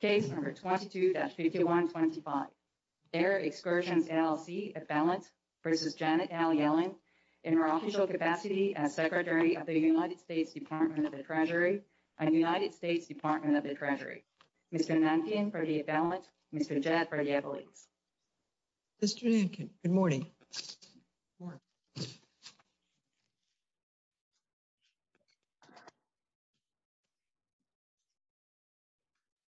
Case number 22-5125, Air Excursions LLC at Ballant v. Janet L. Yellen, in her official capacity as Secretary of the United States Department of the Treasury and United States Department of the Treasury. Mr. Nankin for the Ballant, Mr. Jett for the Evelyns. Mr. Nankin, good morning. Good morning.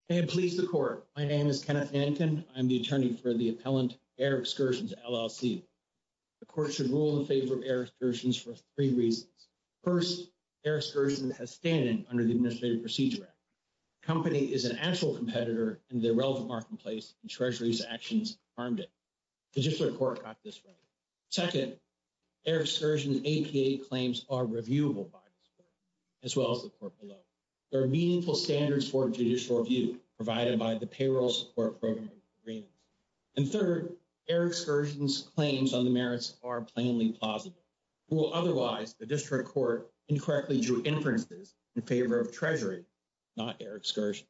May it please the court. My name is Kenneth Nankin. I'm the attorney for the appellant Air Excursions LLC. The court should rule in favor of Air Excursions for three reasons. First, Air Excursions has standing under the Administrative Procedure Act. The company is an actual competitor in the relevant marketplace, and Treasury's actions harmed it. The Judicial Court got this right. Second, Air Excursions' APA claims are reviewable by this court, as well as the court below. There are meaningful standards for judicial review provided by the payroll support program agreements. And third, Air Excursions' claims on the merits are plainly plausible. Otherwise, the district court incorrectly drew inferences in favor of Treasury, not Air Excursions.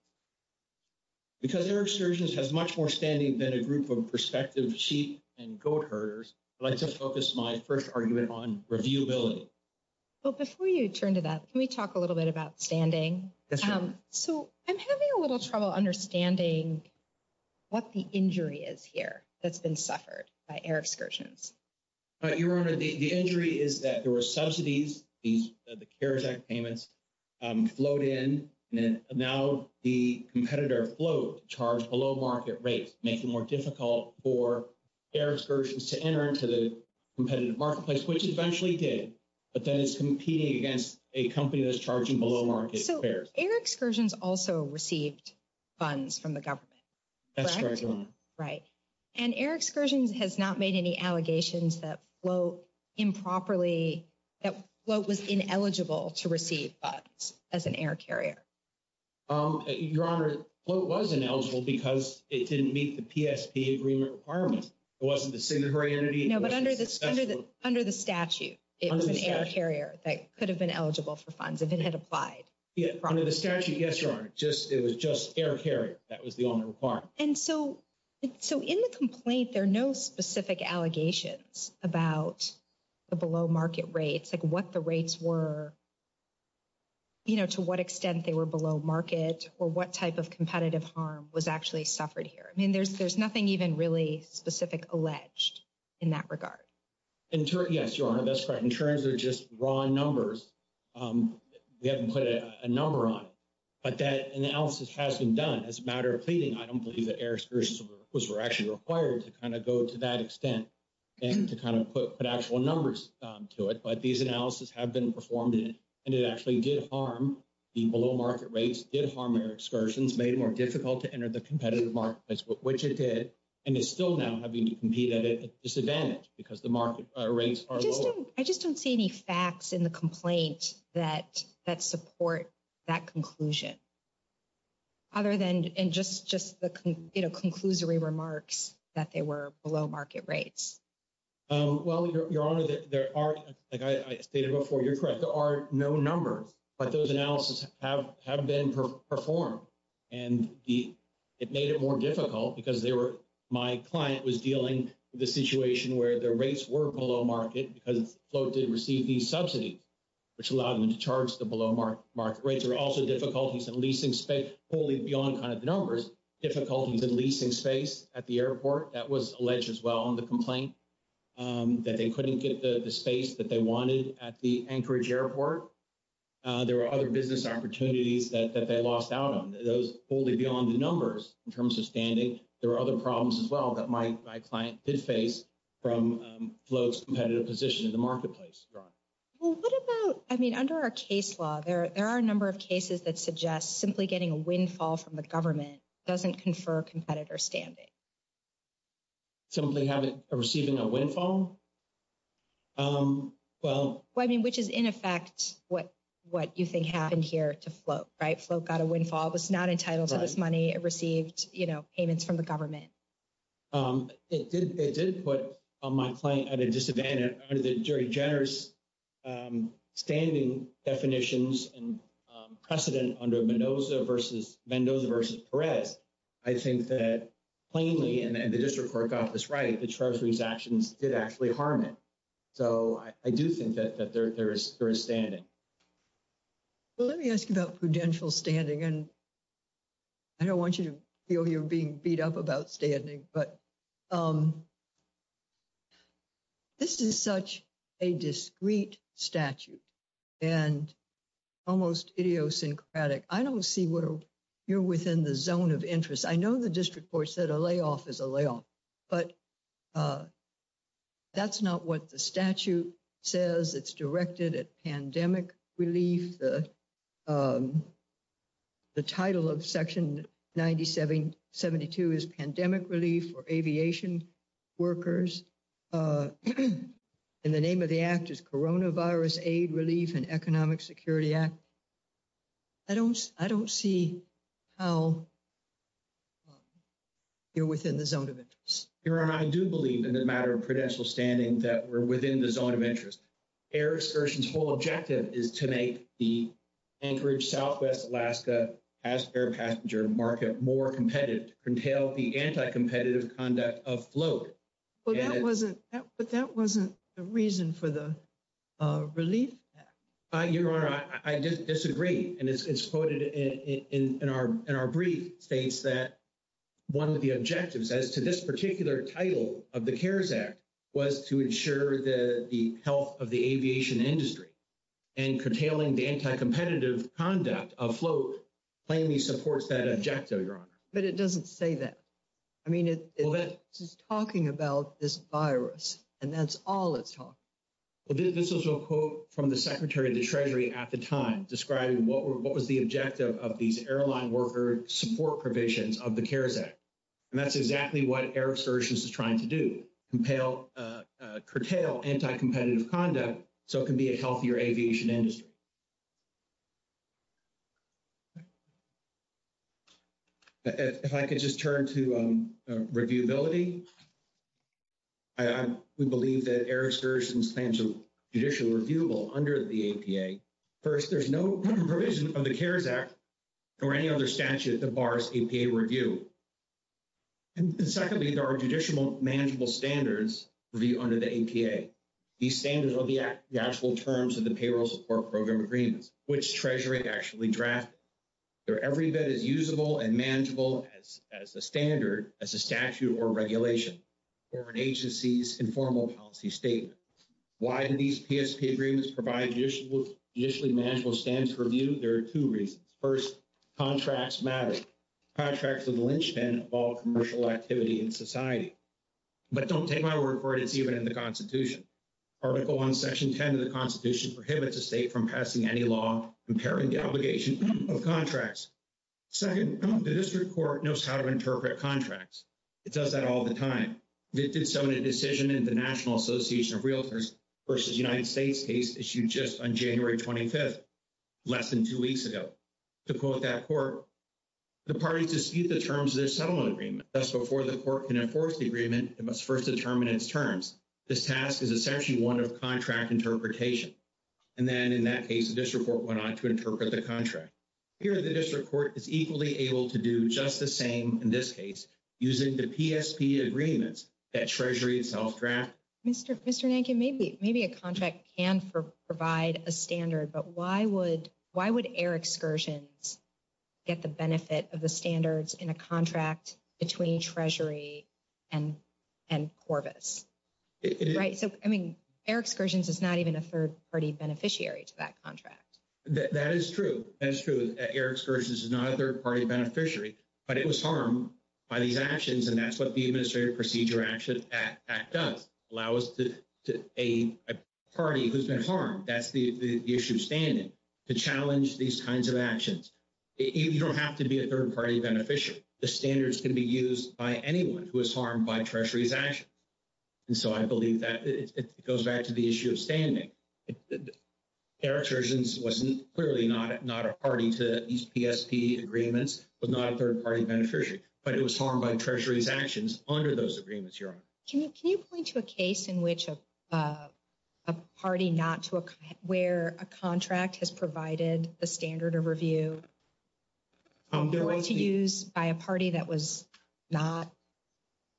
Because Air Excursions has much more standing than a group of prospective sheep and goat herders, I'd like to focus my first argument on reviewability. Well, before you turn to that, can we talk a little bit about standing? So I'm having a little trouble understanding what the injury is here that's been suffered by Air Excursions. Your Honor, the injury is that there were subsidies, the CARES Act payments flowed in. And now the competitor float charged below-market rates, making it more difficult for Air Excursions to enter into the competitive marketplace, which it eventually did. But then it's competing against a company that's charging below-market fares. So Air Excursions also received funds from the government. That's correct, Your Honor. Right. And Air Excursions has not made any allegations that float improperly, that float was ineligible to receive funds as an air carrier? Your Honor, float was ineligible because it didn't meet the PSP agreement requirements. It wasn't the signatory entity. No, but under the statute, it was an air carrier that could have been eligible for funds if it had applied. Under the statute, yes, Your Honor. It was just air carrier. That was the only requirement. And so in the complaint, there are no specific allegations about the below-market rates, like what the rates were, you know, to what extent they were below market or what type of competitive harm was actually suffered here. I mean, there's nothing even really specific alleged in that regard. Yes, Your Honor, that's correct. Insurance are just raw numbers. We haven't put a number on it. But that analysis has been done. As a matter of pleading, I don't believe that Air Excursions was actually required to kind of go to that extent and to kind of put actual numbers to it. But these analysis have been performed and it actually did harm the below-market rates, did harm Air Excursions, made it more difficult to enter the competitive marketplace, which it did, and is still now having to compete at a disadvantage because the market rates are lower. I just don't see any facts in the complaint that support that conclusion. Other than just the, you know, conclusory remarks that they were below market rates. Well, Your Honor, there are, like I stated before, you're correct, there are no numbers. But those analysis have been performed. And it made it more difficult because my client was dealing with a situation where the rates were below market because Float did receive these subsidies, which allowed them to charge the below market rates. There were also difficulties in leasing space, wholly beyond kind of the numbers, difficulties in leasing space at the airport. That was alleged as well in the complaint, that they couldn't get the space that they wanted at the Anchorage airport. There were other business opportunities that they lost out on, those wholly beyond the numbers in terms of standing. There were other problems as well that my client did face from Float's competitive position in the marketplace, Your Honor. Well, what about, I mean, under our case law, there are a number of cases that suggest simply getting a windfall from the government doesn't confer competitor standing. Simply receiving a windfall? Well, I mean, which is in effect what you think happened here to Float, right? Float got a windfall, was not entitled to this money. It received, you know, payments from the government. It did put my client at a disadvantage under the very generous standing definitions and precedent under Mendoza versus Perez. I think that plainly, and the district court got this right, the Treasury's actions did actually harm it. So I do think that there is standing. Well, let me ask you about prudential standing. And I don't want you to feel you're being beat up about standing, but this is such a discreet statute and almost idiosyncratic. I don't see where you're within the zone of interest. I know the district court said a layoff is a layoff, but that's not what the statute says. It's directed at pandemic relief. The title of Section 9772 is Pandemic Relief for Aviation Workers. And the name of the act is Coronavirus Aid Relief and Economic Security Act. I don't see how you're within the zone of interest. Your Honor, I do believe in the matter of prudential standing that we're within the zone of interest. Air excursions' whole objective is to make the Anchorage Southwest Alaska air passenger market more competitive to curtail the anti-competitive conduct of float. But that wasn't the reason for the relief act. Your Honor, I disagree. And it's quoted in our brief states that one of the objectives as to this particular title of the CARES Act was to ensure the health of the aviation industry. And curtailing the anti-competitive conduct of float plainly supports that objective, Your Honor. But it doesn't say that. I mean, it's talking about this virus, and that's all it's talking about. This was a quote from the Secretary of the Treasury at the time describing what was the objective of these airline worker support provisions of the CARES Act. And that's exactly what air excursions is trying to do, curtail anti-competitive conduct so it can be a healthier aviation industry. If I could just turn to reviewability, I would believe that air excursions stands judicially reviewable under the APA. First, there's no provision of the CARES Act or any other statute that bars APA review. And secondly, there are judicial manageable standards review under the APA. These standards are the actual terms of the payroll support program agreements, which Treasury actually drafted. They're every bit as usable and manageable as a standard, as a statute or regulation, or an agency's informal policy statement. Why do these PSP agreements provide judicially manageable standards review? There are two reasons. First, contracts matter. Contracts with the linchpin involve commercial activity in society. But don't take my word for it, it's even in the Constitution. Article 1, Section 10 of the Constitution prohibits a state from passing any law impairing the obligation of contracts. Second, the district court knows how to interpret contracts. It does that all the time. It did so in a decision in the National Association of Realtors versus United States case issued just on January 25th, less than two weeks ago. To quote that court, the parties dispute the terms of their settlement agreement. Thus, before the court can enforce the agreement, it must first determine its terms. This task is essentially one of contract interpretation. And then, in that case, the district court went on to interpret the contract. Here, the district court is equally able to do just the same, in this case, using the PSP agreements that Treasury itself drafted. Mr. Nankin, maybe a contract can provide a standard, but why would Air Excursions get the benefit of the standards in a contract between Treasury and Corvus? Right? So, I mean, Air Excursions is not even a third-party beneficiary to that contract. That is true. That is true. Air Excursions is not a third-party beneficiary. But it was harmed by these actions, and that's what the Administrative Procedure Action Act does. It allows a party who's been harmed, that's the issue of standing, to challenge these kinds of actions. You don't have to be a third-party beneficiary. The standards can be used by anyone who is harmed by Treasury's actions. And so I believe that it goes back to the issue of standing. Air Excursions was clearly not a party to these PSP agreements, was not a third-party beneficiary. But it was harmed by Treasury's actions under those agreements, Your Honor. Can you point to a case in which a party not to a – where a contract has provided the standard of review for it to use by a party that was not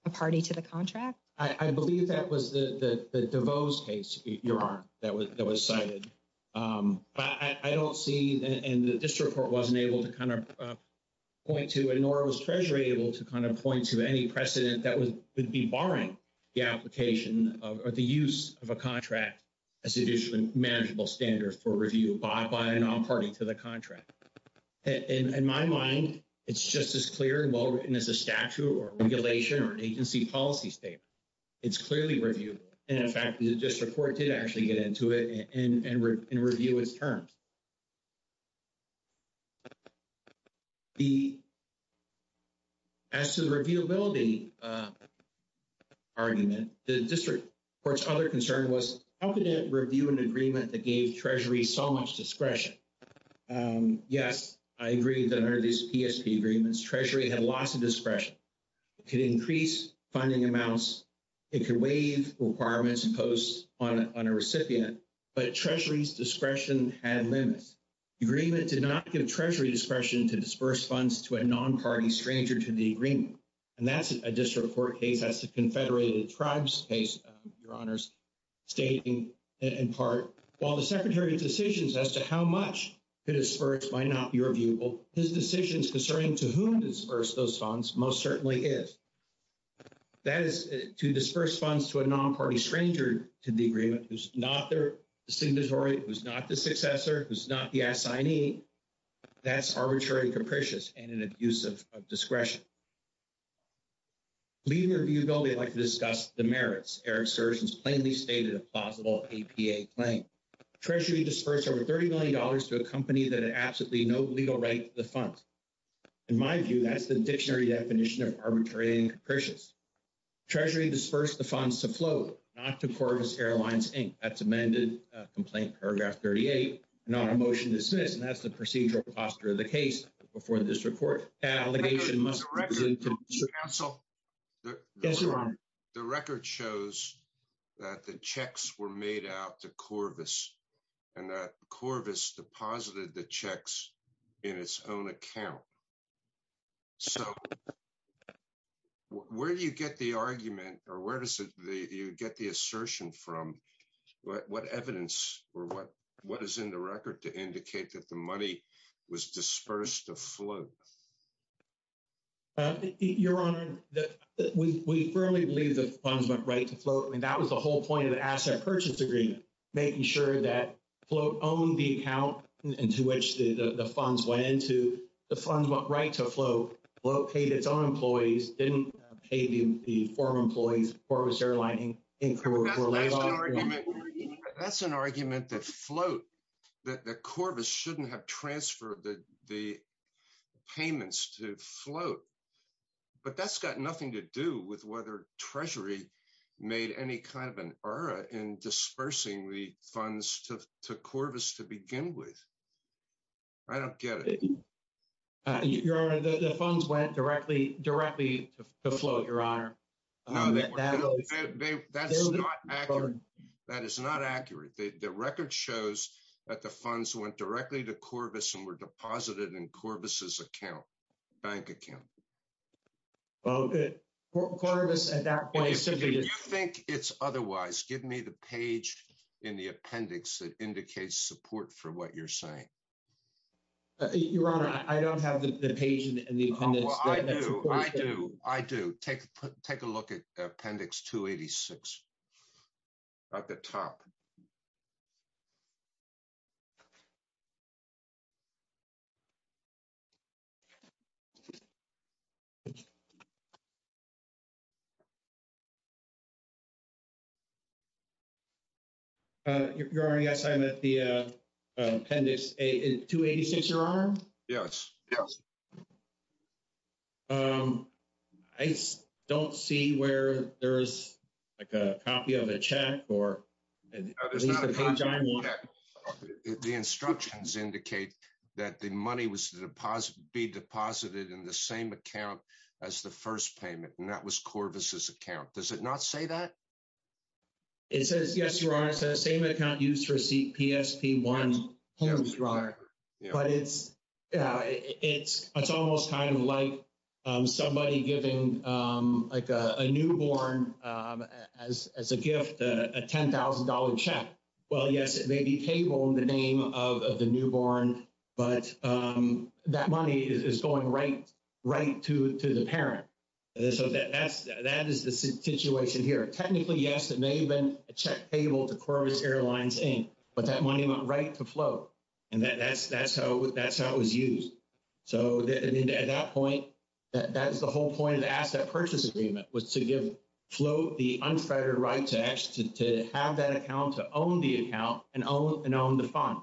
a party to the contract? I believe that was the DeVos case, Your Honor, that was cited. But I don't see – and the district court wasn't able to kind of point to it, nor was Treasury able to kind of point to any precedent that would be barring the application or the use of a contract as additional manageable standard for review by a non-party to the contract. In my mind, it's just as clear and well written as a statute or regulation or an agency policy statement. It's clearly reviewable. And, in fact, the district court did actually get into it and review its terms. The – as to the reviewability argument, the district court's other concern was how could it review an agreement that gave Treasury so much discretion? Yes, I agree that under these PSP agreements, Treasury had lots of discretion. It could increase funding amounts. It could waive requirements imposed on a recipient. But Treasury's discretion had limits. Agreement did not give Treasury discretion to disperse funds to a non-party stranger to the agreement. And that's a district court case. That's a Confederated Tribes case, Your Honors, stating in part, while the Secretary's decisions as to how much could it disperse might not be reviewable, his decisions concerning to whom to disperse those funds most certainly is. That is, to disperse funds to a non-party stranger to the agreement who's not their signatory, who's not the successor, who's not the assignee, that's arbitrary and capricious and an abuse of discretion. In the reviewability, I'd like to discuss the merits. Eric's assertions plainly stated a plausible APA claim. Treasury dispersed over $30 million to a company that had absolutely no legal right to the funds. In my view, that's the dictionary definition of arbitrary and capricious. Treasury dispersed the funds to float, not to Corvus Airlines, Inc. That's amended complaint paragraph 38, not a motion to dismiss. And that's the procedural posture of the case before the district court. The record shows that the checks were made out to Corvus and that Corvus deposited the checks in its own account. So, where do you get the argument or where do you get the assertion from? What evidence or what is in the record to indicate that the money was dispersed to float? Your Honor, we firmly believe the funds went right to float. I mean, that was the whole point of the asset purchase agreement. Making sure that float owned the account into which the funds went into. The funds went right to float. Float paid its own employees, didn't pay the former employees of Corvus Airlines, Inc. That's an argument that float, that Corvus shouldn't have transferred the payments to float. But that's got nothing to do with whether Treasury made any kind of an error in dispersing the funds to Corvus to begin with. I don't get it. Your Honor, the funds went directly to float, Your Honor. That's not accurate. That is not accurate. The record shows that the funds went directly to Corvus and were deposited in Corvus's account, bank account. Corvus, at that point, simply didn't. If you think it's otherwise, give me the page in the appendix that indicates support for what you're saying. Your Honor, I don't have the page in the appendix. Well, I do. I do. I do. Take a look at appendix 286 at the top. Your Honor, yes, I'm at the appendix 286, Your Honor. Yes, yes. I don't see where there's a copy of a check or at least a page I want. The instructions indicate that the money was to be deposited in the same account as the first payment, and that was Corvus's account. Does it not say that? It says, yes, Your Honor, it's the same account used for PSP-1. But it's almost kind of like somebody giving like a newborn as a gift a $10,000 check. Well, yes, it may be tabled in the name of the newborn, but that money is going right to the parent. So that is the situation here. Technically, yes, it may have been a check tabled to Corvus Airlines, Inc., but that money went right to Float, and that's how it was used. So at that point, that is the whole point of the asset purchase agreement was to give Float the unfettered right to have that account, to own the account, and own the funds.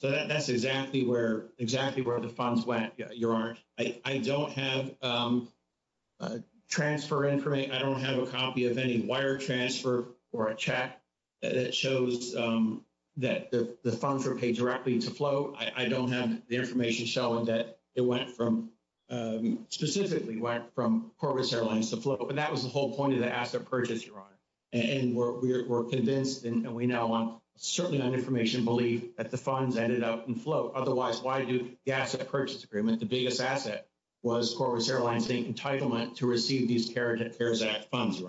So that's exactly where the funds went, Your Honor. I don't have transfer information. I don't have a copy of any wire transfer or a check that shows that the funds were paid directly to Float. I don't have the information showing that it went from – specifically went from Corvus Airlines to Float. But that was the whole point of the asset purchase, Your Honor. And we're convinced, and we now certainly on information believe that the funds ended up in Float. So otherwise, why do the asset purchase agreement, the biggest asset, was Corvus Airlines, Inc., entitlement to receive these CARES Act funds, Your Honor?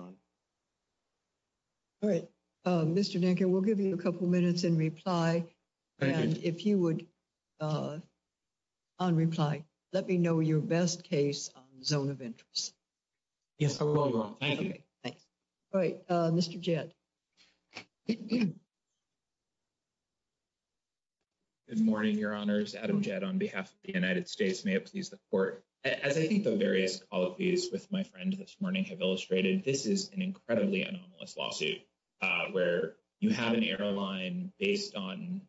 All right. Mr. Denker, we'll give you a couple minutes in reply. Thank you. And if you would, on reply, let me know your best case on the zone of interest. Yes, I will, Your Honor. Thank you. All right. Mr. Jett. Good morning, Your Honors. Adam Jett on behalf of the United States. May it please the Court. As I think the various colleagues with my friend this morning have illustrated, this is an incredibly anomalous lawsuit where you have an airline based on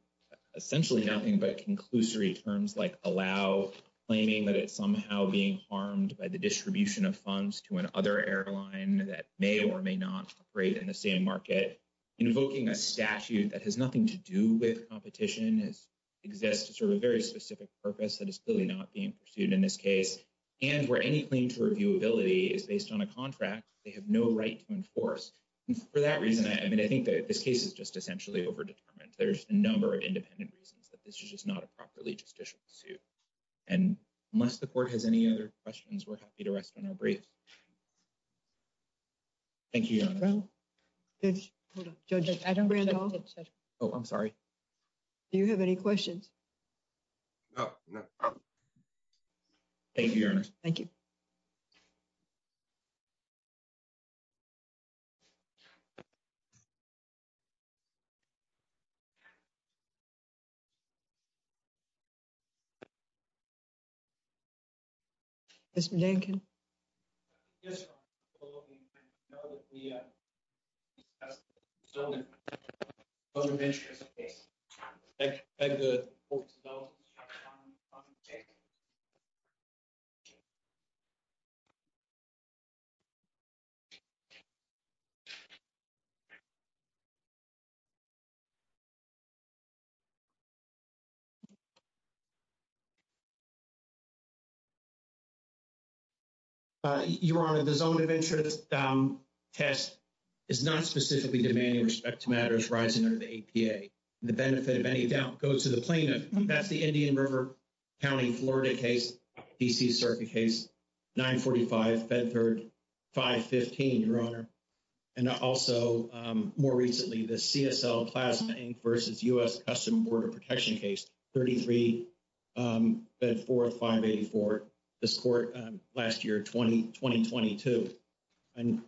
essentially nothing but conclusory terms like allow, claiming that it's somehow being harmed by the distribution of funds to another airline that may or may not operate in the same market. Invoking a statute that has nothing to do with competition exists for a very specific purpose that is clearly not being pursued in this case. And where any claim to reviewability is based on a contract they have no right to enforce. And for that reason, I mean, I think that this case is just essentially overdetermined. There's a number of independent reasons that this is just not a properly judicial suit. And unless the Court has any other questions, we're happy to rest on our briefs. Thank you. Oh, I'm sorry. Do you have any questions? Thank you. Thank you. Thank you. Yes. Your Honor, the zone of interest test is not specifically demanding respect to matters rising under the APA. The benefit of any doubt goes to the plaintiff. That's the Indian River County, Florida case, D.C. Circuit case, 945 Bedford, 515, Your Honor. And also, more recently, the CSL Plasma Inc. v. U.S. Customs and Border Protection case, 33 Bedford, 584, this Court last year, 2022. And,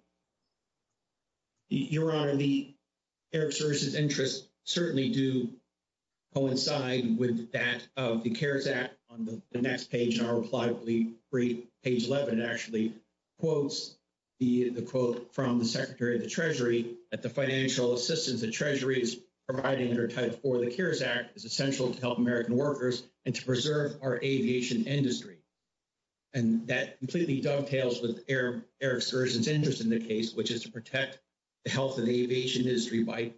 Your Honor, the air services interest certainly do coincide with that of the CARES Act on the next page in our reply brief, page 11. It actually quotes the quote from the Secretary of the Treasury that the financial assistance the Treasury is providing under Title IV of the CARES Act is essential to help American workers and to preserve our aviation industry. And that completely dovetails with air services interest in the case, which is to protect the health of the aviation industry by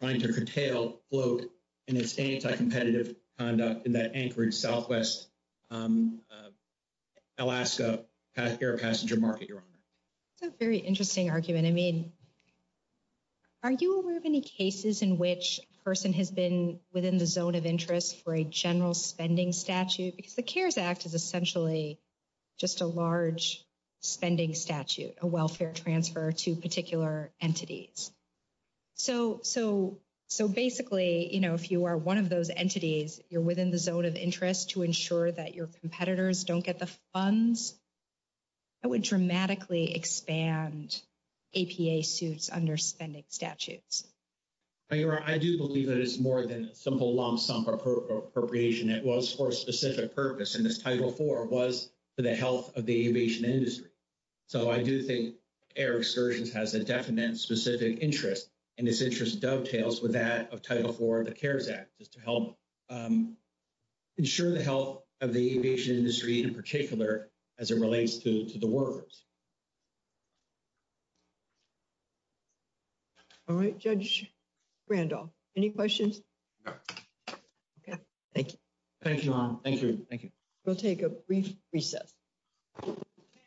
trying to curtail float and its anti-competitive conduct in that Anchorage Southwest Alaska air passenger market, Your Honor. That's a very interesting argument. I mean, are you aware of any cases in which a person has been within the zone of interest for a general spending statute? Because the CARES Act is essentially just a large spending statute, a welfare transfer to particular entities. So basically, if you are one of those entities, you're within the zone of interest to ensure that your competitors don't get the funds, that would dramatically expand APA suits under spending statutes. Your Honor, I do believe that it's more than a simple lump sum appropriation. It was for a specific purpose, and this Title IV was for the health of the aviation industry. So I do think air excursions has a definite specific interest, and this interest dovetails with that of Title IV of the CARES Act just to help ensure the health of the aviation industry in particular as it relates to the workers. All right, Judge Randolph, any questions? No. Okay, thank you. Thank you, Your Honor. Thank you. Thank you. We'll take a brief recess.